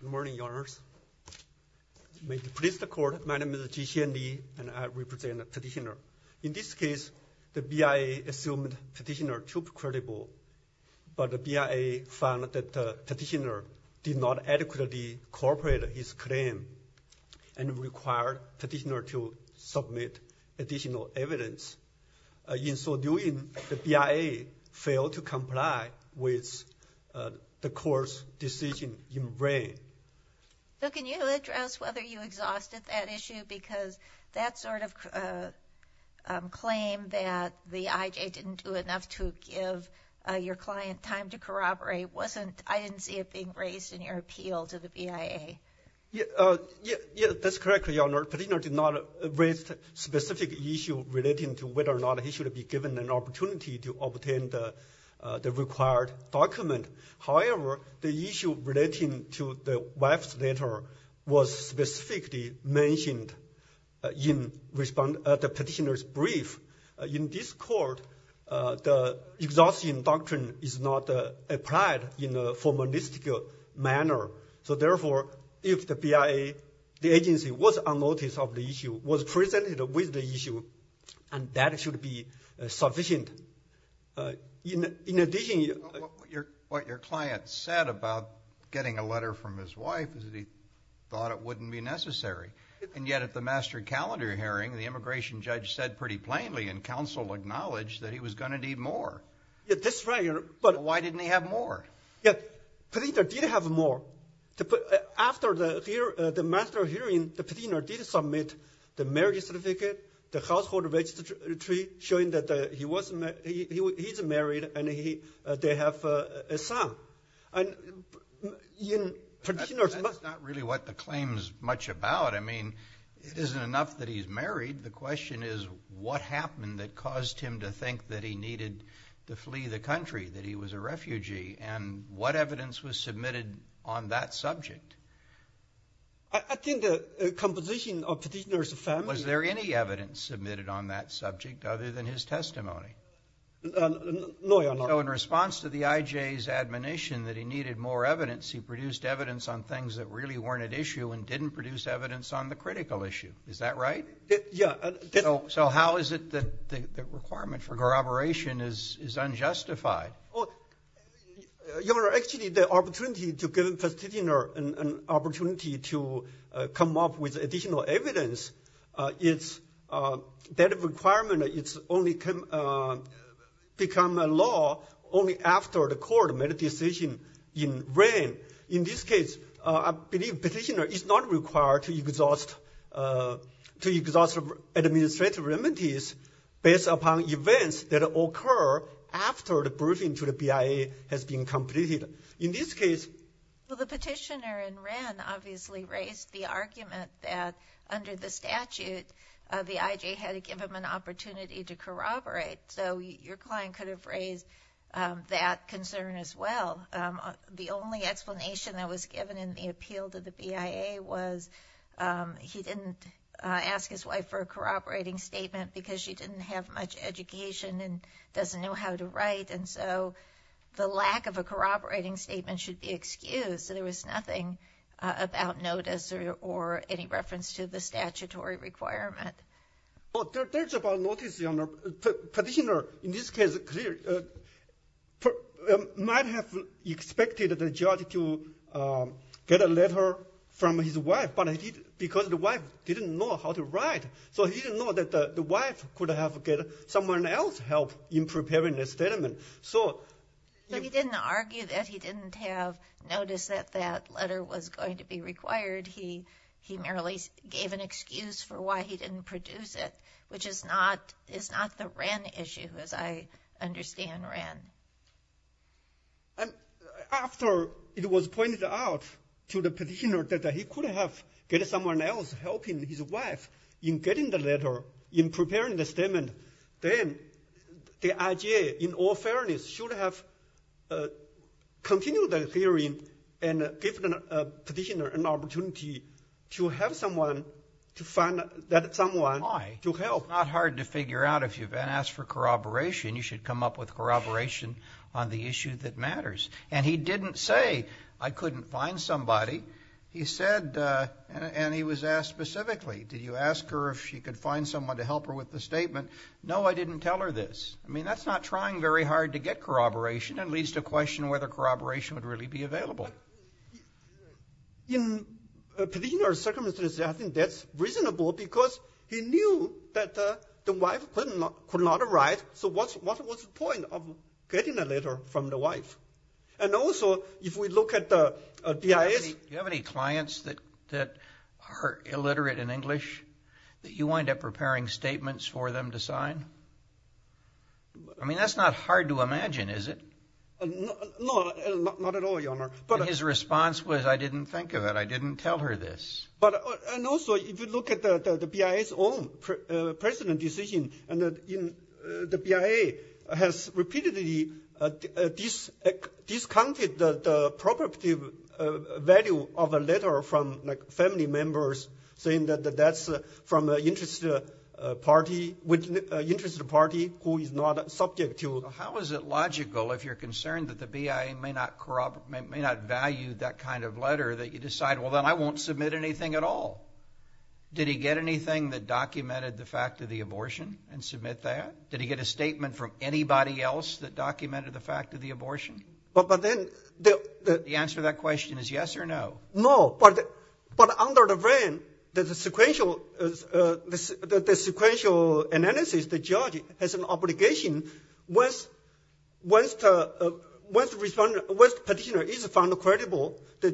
Good morning, Your Honors. May it please the Court, my name is Jixian Li and I represent the Petitioner. In this case, the BIA assumed Petitioner too credible, but the BIA found that Petitioner did not adequately cooperate his claim and required Petitioner to submit additional evidence. In so doing, the BIA failed to comply with the Court's decision in Reign. So can you address whether you exhausted that issue because that sort of claim that the IJ didn't do enough to give your client time to corroborate wasn't, I didn't see it being raised in your appeal to the BIA. Yeah, yeah, that's correct, Your Honor. Petitioner did not raise a specific issue relating to whether or not he should be given an opportunity to obtain the required document. However, the issue relating to the wife's letter was specifically mentioned in the Petitioner's brief. In this Court, the exhaustion doctrine is not applied in a formalistic manner. So therefore, if the BIA, the agency, was unnoticed of the issue, was presented with the issue, and that should be sufficient. In addition... What your client said about getting a letter from his wife is that he thought it wouldn't be necessary. And yet at the master calendar hearing, the immigration judge said pretty plainly and counsel acknowledged that he was going to need more. Yeah, that's right, Your Honor. But why didn't he have more? Yeah, Petitioner did have more. After the master hearing, the Petitioner did submit the marriage certificate, the household registry showing that he's married and they have a son. That's not really what the claim is much about. I mean, it isn't enough that he's married. The question is, what happened that caused him to think that he needed to flee the country, that he was a refugee? And what evidence was submitted on that subject? I think the composition of Petitioner's family... Was there any evidence submitted on that subject other than his testimony? No, Your Honor. So in response to the IJ's admonition that he needed more evidence, he produced evidence on things that really weren't at issue and didn't produce evidence on the critical issue. Is that right? Yeah. So how is it that the requirement for corroboration is unjustified? Your Honor, actually, the opportunity to give Petitioner an opportunity to come up with additional evidence, that requirement only became a law only after the court made a decision in Wren. In this case, I believe Petitioner is not required to exhaust administrative remedies based upon events that occur after the briefing to the BIA has been completed. In this case... Well, the Petitioner in Wren obviously raised the argument that under the statute, the IJ had to give him an opportunity to corroborate. So your client could have raised that concern as well. The only explanation that was given in the appeal to the BIA was he didn't ask his wife for a corroborating statement because she didn't have much education and doesn't know how to write. And so the lack of a corroborating statement should be excused. So there was nothing about notice or any reference to the statutory requirement. Oh, there's about notice, your Honor. Petitioner, in this case, might have expected the judge to get a letter from his wife, but because the wife didn't know how to write, so he didn't know that the wife could have get someone else help in preparing the statement. So he didn't argue that he didn't have notice that that letter was going to be which is not the Wren issue, as I understand Wren. And after it was pointed out to the Petitioner that he could have get someone else helping his wife in getting the letter, in preparing the statement, then the IJ, in all fairness, should have continued the hearing and given the Petitioner an opportunity to have someone to find someone to help. It's not hard to figure out if you've been asked for corroboration, you should come up with corroboration on the issue that matters. And he didn't say, I couldn't find somebody. He said, and he was asked specifically, did you ask her if she could find someone to help her with the statement? No, I didn't tell her this. I mean, that's not trying very hard to get corroboration and leads to question whether corroboration would really be available. In Petitioner's circumstances, I think that's reasonable because he knew that the wife could not arrive. So what's the point of getting a letter from the wife? And also, if we look at the DIA... Do you have any clients that are illiterate in English that you wind up preparing statements for them to sign? I mean, that's not hard to imagine, is it? No, not at all, Your Honor. But his response was, I didn't think of it. I didn't tell her this. And also, if you look at the BIA's own precedent decision, the BIA has repeatedly discounted the property value of a letter from family members saying that that's from an interested party who is not subject to... How is it logical, if you're concerned that the BIA may not value that kind of letter, that you decide, well, then I won't submit anything at all? Did he get anything that documented the fact of the abortion and submit that? Did he get a statement from anybody else that documented the fact of the abortion? The answer to that is that the judge has an obligation. Once the petitioner is found credible, the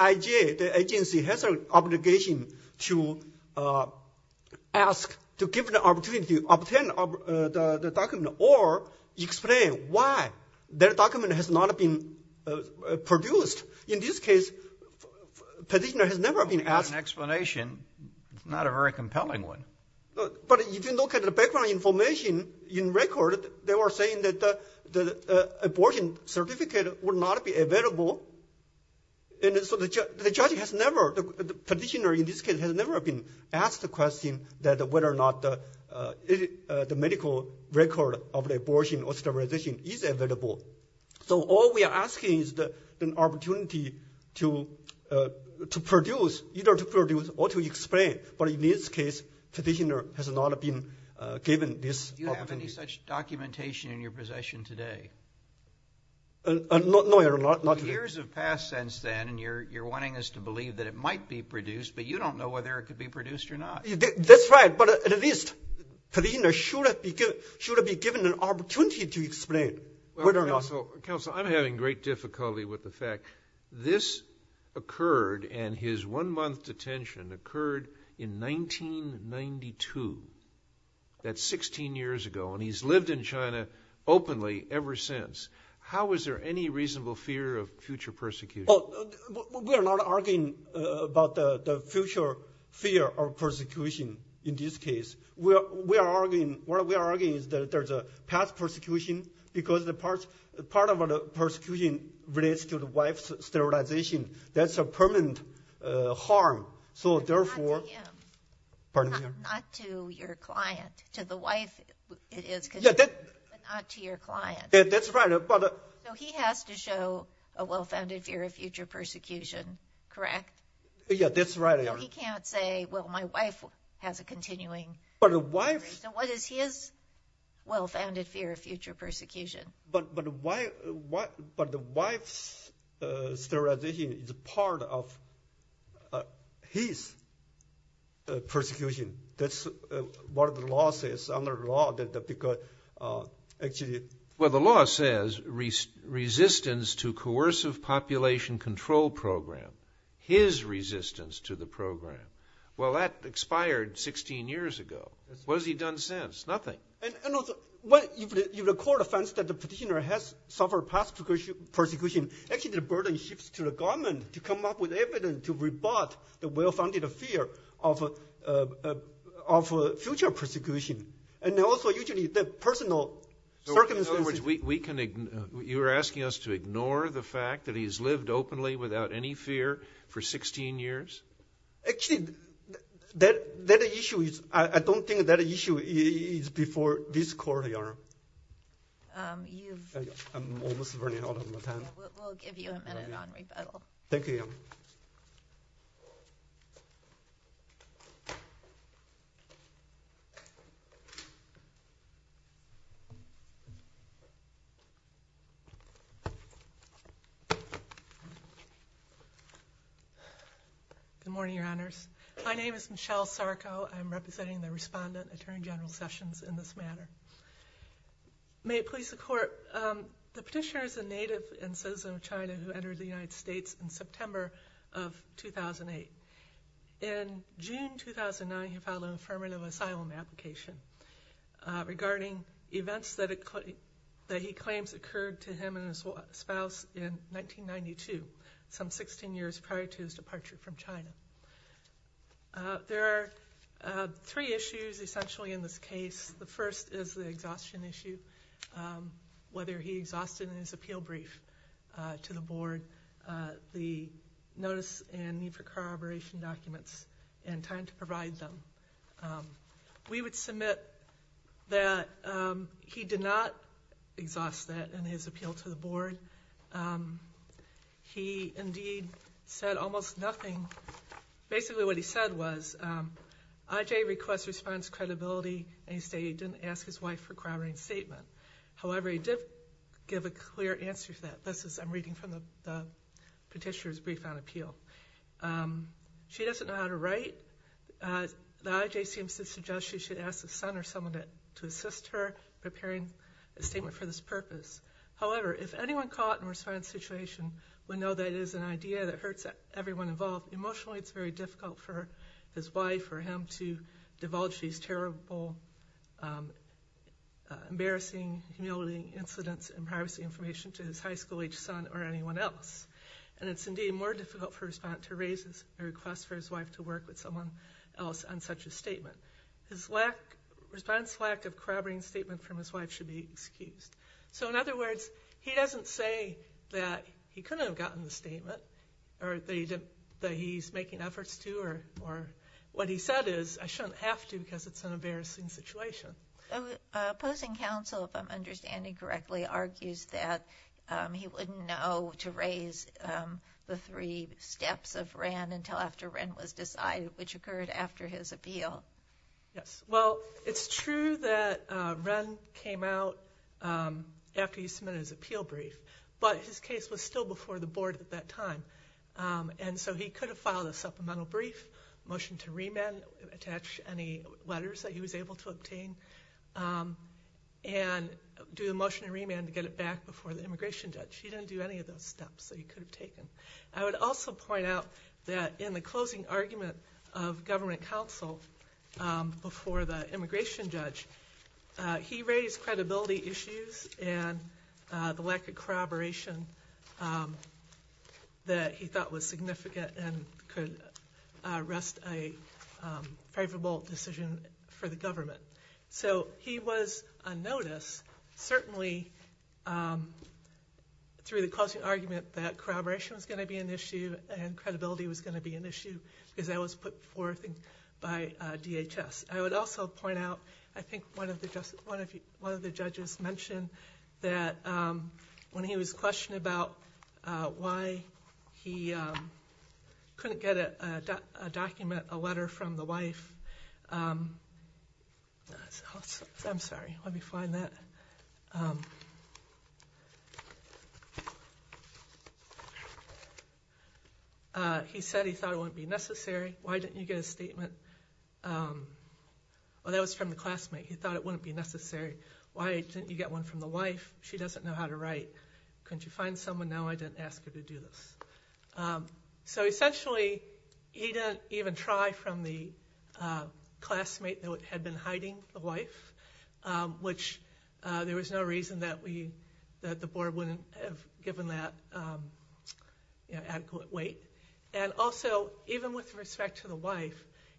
IG, the agency has an obligation to ask, to give an opportunity to obtain the document or explain why that document has not been produced. In this case, the petitioner has never been asked... That's not an explanation. It's not a very compelling one. But if you look at the background information in record, they were saying that the abortion certificate would not be available. And so the judge has never, the petitioner in this case, has never been asked the question that whether or not the medical record of the abortion or sterilization is available. So all we are asking is the opportunity to produce, either to produce or to explain. But in this case, the petitioner has not been given this opportunity. Do you have any such documentation in your possession today? No, Your Honor, not really. Years have passed since then, and you're wanting us to believe that it might be produced, but you don't know whether it could be produced or not. That's right. But at least the petitioner should be given an opportunity to explain whether or not... Counsel, I'm having great difficulty with the fact this occurred, and his one-month detention occurred in 1992. That's 16 years ago, and he's lived in China openly ever since. How is there any reasonable fear of future persecution? We are not arguing about the future fear of persecution in this case. What we are arguing is that there's a past persecution because part of the persecution relates to the wife's sterilization. That's a permanent harm. So therefore... But not to him, not to your client, to the wife it is, but not to your client. That's right, but... So he has to show a well-founded fear of future persecution, correct? Yeah, that's right, Your Honor. He can't say, well, my wife has a continuing... But the wife... So what is his well-founded fear of future persecution? But the wife's sterilization is part of his persecution. That's what the law says, under the law, that because actually... Well, the law says resistance to coercive population control program, his resistance to the program. Well, that expired 16 years ago. What has he done since? Nothing. And also, when the court finds that the petitioner has suffered past persecution, actually the burden shifts to the government to come up with evidence to rebut the well-founded fear of future persecution. And also, usually, the personal circumstances... So in other words, you're asking us to ignore the fact that he's lived openly without any fear for 16 years? Actually, that issue is... I don't think that issue is before this court, Your Honor. You've... I'm almost running out of my time. We'll give you a minute on rebuttal. Thank you, Your Honor. Good morning, Your Honors. My name is Michelle Sarko. I'm representing the respondent, Attorney General Sessions, in this matter. May it please the court, the petitioner is a native and citizen of China who entered the United States in September of 2008. In June 2009, he filed an affirmative asylum application regarding events that he claims occurred to him and his spouse in 1992, some 16 years prior to his departure from China. There are three issues essentially in this case. The first is the exhaustion issue, whether he exhausted in his appeal brief to the board the notice and need for corroboration documents and time to provide them. We would submit that he did not exhaust that in his board. He indeed said almost nothing. Basically, what he said was IJ requests response credibility and he stated he didn't ask his wife for corroborating statement. However, he did give a clear answer to that. This is... I'm reading from the petitioner's brief on appeal. She doesn't know how to write. The IJ seems to suggest she should ask a son or someone to assist her in preparing a statement for this purpose. However, if anyone caught in a response situation would know that it is an idea that hurts everyone involved, emotionally it's very difficult for his wife or him to divulge these terrible, embarrassing, humiliating incidents and privacy information to his high school-aged son or anyone else. And it's indeed more difficult for a respondent to raise a request for his wife to work with someone else on such a statement. His lack... response lack of corroborating statement from his wife should be excused. So in other words, he doesn't say that he couldn't have gotten the statement or they didn't... that he's making efforts to or what he said is I shouldn't have to because it's an embarrassing situation. Opposing counsel, if I'm understanding correctly, argues that he wouldn't know to raise the three steps of Wren until after Wren was decided, which occurred after his appeal. Yes, well it's true that Wren came out after he submitted his appeal brief, but his case was still before the board at that time. And so he could have filed a supplemental brief, motion to remand, attach any letters that he was able to obtain, and do the motion to remand to get it back before the immigration judge. He didn't do any of those steps that he could have taken. I would also point out that in the closing argument of government counsel before the immigration judge, he raised credibility issues and the lack of corroboration that he thought was significant and could arrest a favorable decision for the government. So he was on notice, certainly through the closing argument that corroboration was going to be an issue and credibility was going to be an issue because that was put forth by DHS. I would also point out, I think one of the judges mentioned that when he was questioned about why he couldn't get a document, a letter from the wife... I'm sorry, let me find that. He said he thought it wouldn't be necessary. Why didn't you get a statement? Well, that was from the classmate. He thought it wouldn't be necessary. Why didn't you get one from the wife? She doesn't know how to write. Couldn't you find someone? No, I didn't ask her to do this. So essentially he didn't even try from the classmate that had been hiding the wife, which there was no reason that the board wouldn't have given that adequate weight. And also, even with respect to the wife,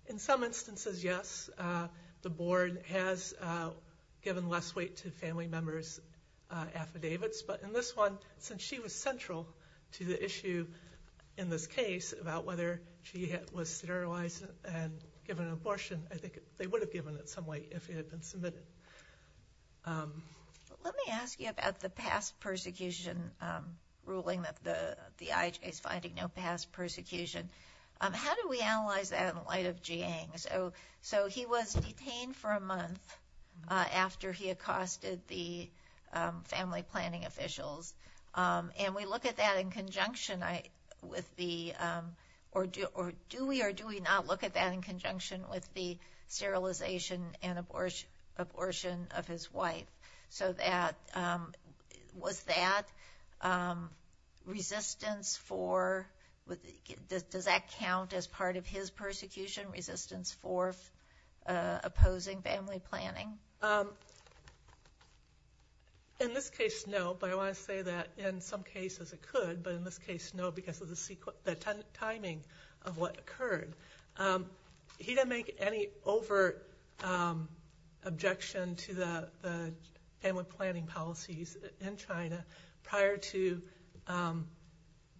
in some instances, yes, the board has given less weight to family members' affidavits, but in this one, since she was central to the issue in this case about whether she was sterilized and given an abortion, I think they would have given it some weight. But let me ask you about the past persecution ruling that the IHA is finding no past persecution. How do we analyze that in light of Jiang? So he was detained for a month after he accosted the family planning officials. And we look at that in conjunction with the... abortion of his wife. So was that resistance for... does that count as part of his persecution, resistance for opposing family planning? In this case, no, but I want to say that in some cases it could, but in this case, no, because of the timing of what occurred. He didn't make any overt objection to the family planning policies in China prior to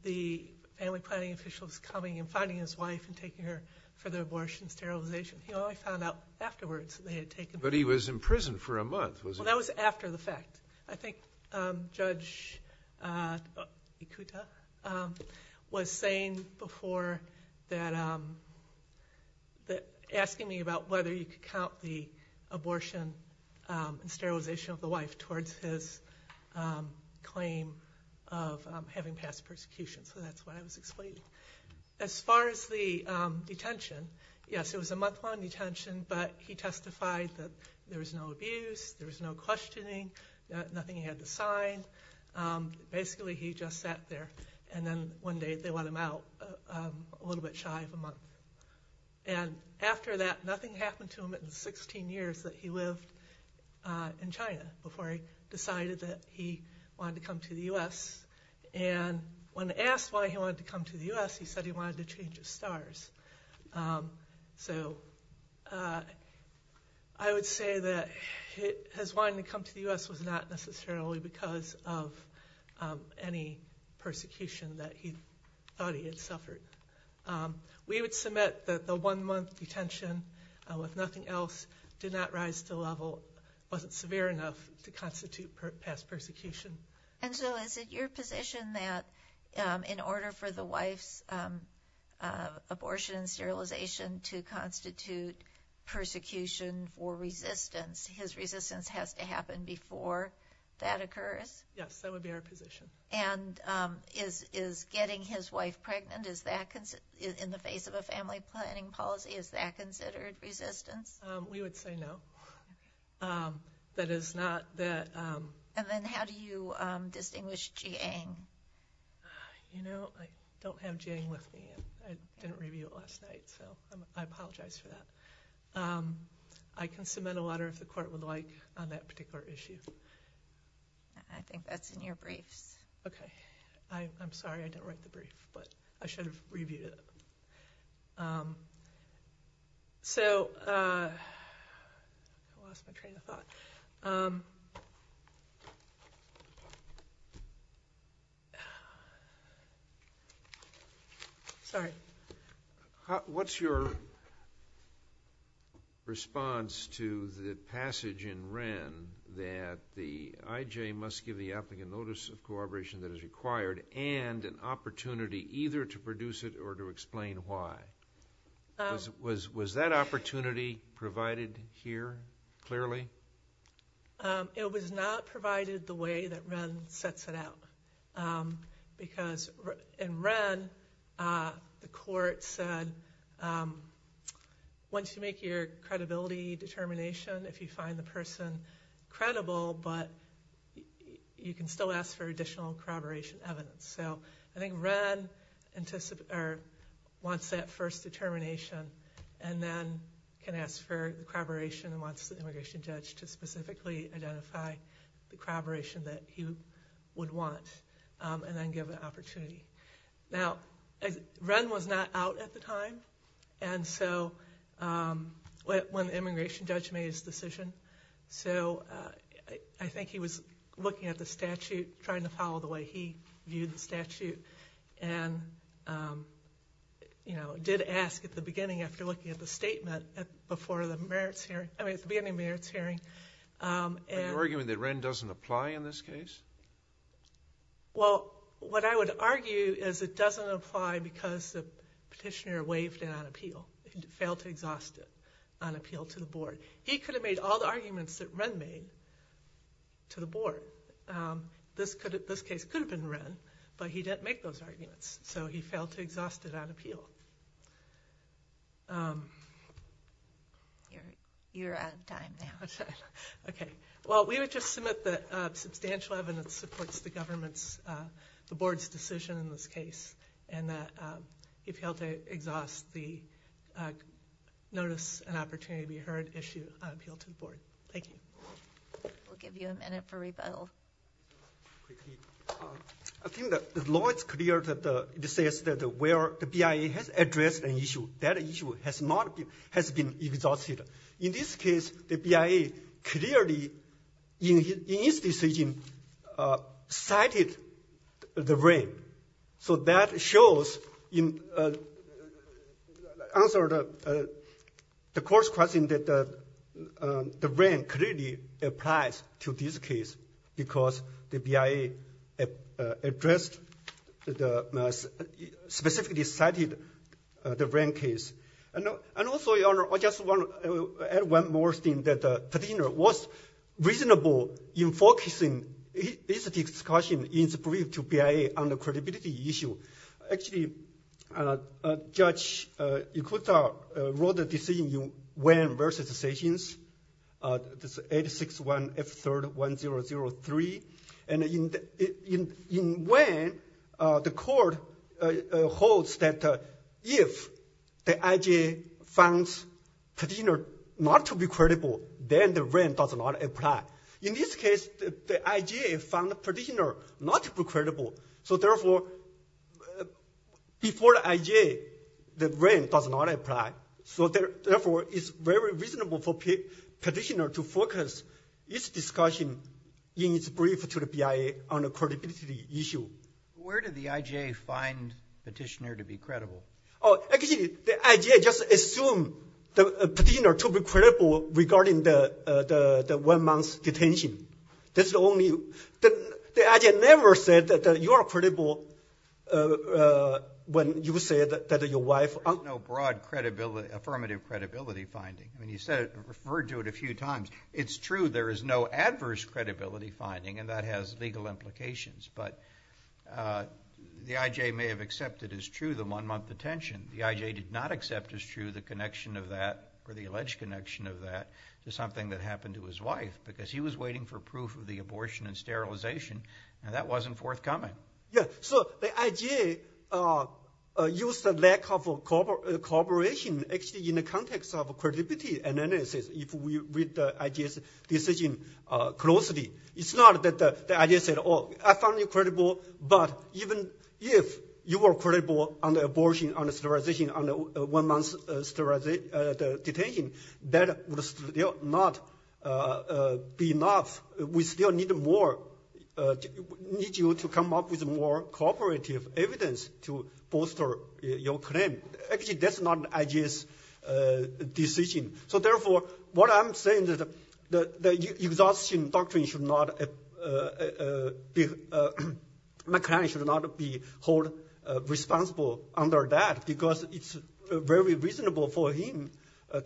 the family planning officials coming and finding his wife and taking her for the abortion sterilization. He only found out afterwards that they had taken... But he was in prison for a month, that was after the fact. I think Judge Ikuta was saying before that... asking me about whether you could count the abortion and sterilization of the wife towards his claim of having past persecution. So that's what I was explaining. As far as the detention, yes, it was a month-long detention, but he testified that there was no abuse, there was no questioning, nothing he had to sign. Basically he just sat there and then one day they let him out a little bit shy of a month. And after that, nothing happened to him in the 16 years that he lived in China before he decided that he wanted to come to the U.S. And when asked why he wanted to come to the U.S., he said he wanted to change his stars. So I would say that his wanting to come to the U.S. was not necessarily because of any persecution that he thought he had suffered. We would submit that the one-month detention with nothing else did not rise to the level, wasn't severe enough to constitute past persecution. And so is it your position that in order for the wife's abortion and sterilization to constitute persecution for resistance, his resistance has to happen before that occurs? Yes, that would be our position. And is getting his wife pregnant, in the face of a family planning policy, is that considered resistance? We would say no. That is not... And then how do you distinguish Jiang? You know, I don't have Jiang with me. I didn't review it last night, so I apologize for that. I can submit a letter if the court would like on that particular issue. I think that's in your briefs. Okay. I'm sorry I didn't write the brief, but I should have reviewed it. I lost my train of thought. Sorry. What's your response to the passage in Wren that the IJ must give the applicant notice of corroboration that is required and an opportunity either to produce it or to explain why? Was that opportunity provided here clearly? It was not provided the way that Wren sets it out. Because in Wren, the court said, once you make your credibility determination, if you find the person credible, but you can still ask for additional corroboration evidence. I think Wren wants that first determination and then can ask for corroboration and wants the immigration judge to specifically identify the corroboration that he would want and then give an opportunity. Now, Wren was not out at the time when the immigration judge made his decision. So I think he was looking at the statute, trying to follow the way he viewed the statute, and did ask at the beginning after looking at the statement before the merits hearing, I mean, at the beginning of the merits hearing. Are you arguing that Wren doesn't apply in this case? Well, what I would argue is it doesn't apply because the petitioner waived it on appeal. He failed to exhaust it on appeal to the board. He could have made all the arguments that Wren made to the board. This case could have been Wren, but he didn't make those arguments. So he failed to exhaust it on appeal. You're out of time now. Okay. Well, we would just submit that substantial evidence supports the government's, the board's decision in this case. And that he failed to exhaust the notice and opportunity to be heard issue on appeal to the board. Thank you. We'll give you a minute for rebuttal. I think that the law is clear that it says that where the BIA has addressed an issue, that issue has not been, has been exhausted. In this case, the BIA clearly, in his decision, cited the Wren. So that shows in answer to the court's question that the Wren clearly applies to this case because the BIA addressed, specifically cited the Wren case. And also, Your Honor, I just want to add one more thing that the petitioner was reasonable in focusing his discussion in his brief to BIA on the credibility issue. Actually, Judge Ikuta wrote a decision in Wren v. Sessions, 861 F3rd 1003. And in Wren, the court holds that if the IJ finds petitioner not to be credible, then the Wren does not apply. In this case, the IJ found the petitioner not to be credible. So therefore, before the IJ, the Wren does not apply. So therefore, it's very reasonable for the petitioner to focus his discussion in his brief to the BIA on the credibility issue. Where did the IJ find the petitioner to be credible? Oh, actually, the IJ just assumed the petitioner to be credible regarding the one-month detention. That's the only—the IJ never said that you are credible when you said that your wife— There's no broad credibility—affirmative credibility finding. I mean, you said—referred to it a few times. It's true there is no adverse credibility finding, and that has legal implications. But the IJ may have accepted as true the one-month detention. The IJ did not accept as true the connection of that, or the alleged connection of that, to something that happened to his wife, because he was waiting for proof of the abortion and sterilization, and that wasn't forthcoming. Yeah. So the IJ used the lack of cooperation, actually, in the context of credibility analysis, if we read the IJ's decision closely. It's not that the IJ said, oh, I found you credible, but even if you were credible on the abortion, on the sterilization, on the one-month detention, that would still not be enough. We still need more—need you to come up with more cooperative evidence to bolster your claim. Actually, that's not the IJ's decision. So therefore, what I'm saying is that the exhaustion doctrine should not be—my client should not be held responsible under that, because it's very reasonable for him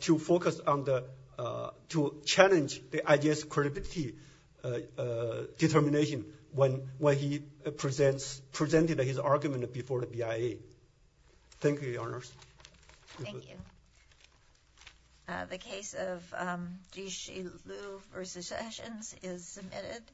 to focus on the—to challenge the IJ's credibility determination when he presented his argument before the BIA. Thank you, Your Honors. Thank you. The case of Dixi Liu v. Sessions is submitted.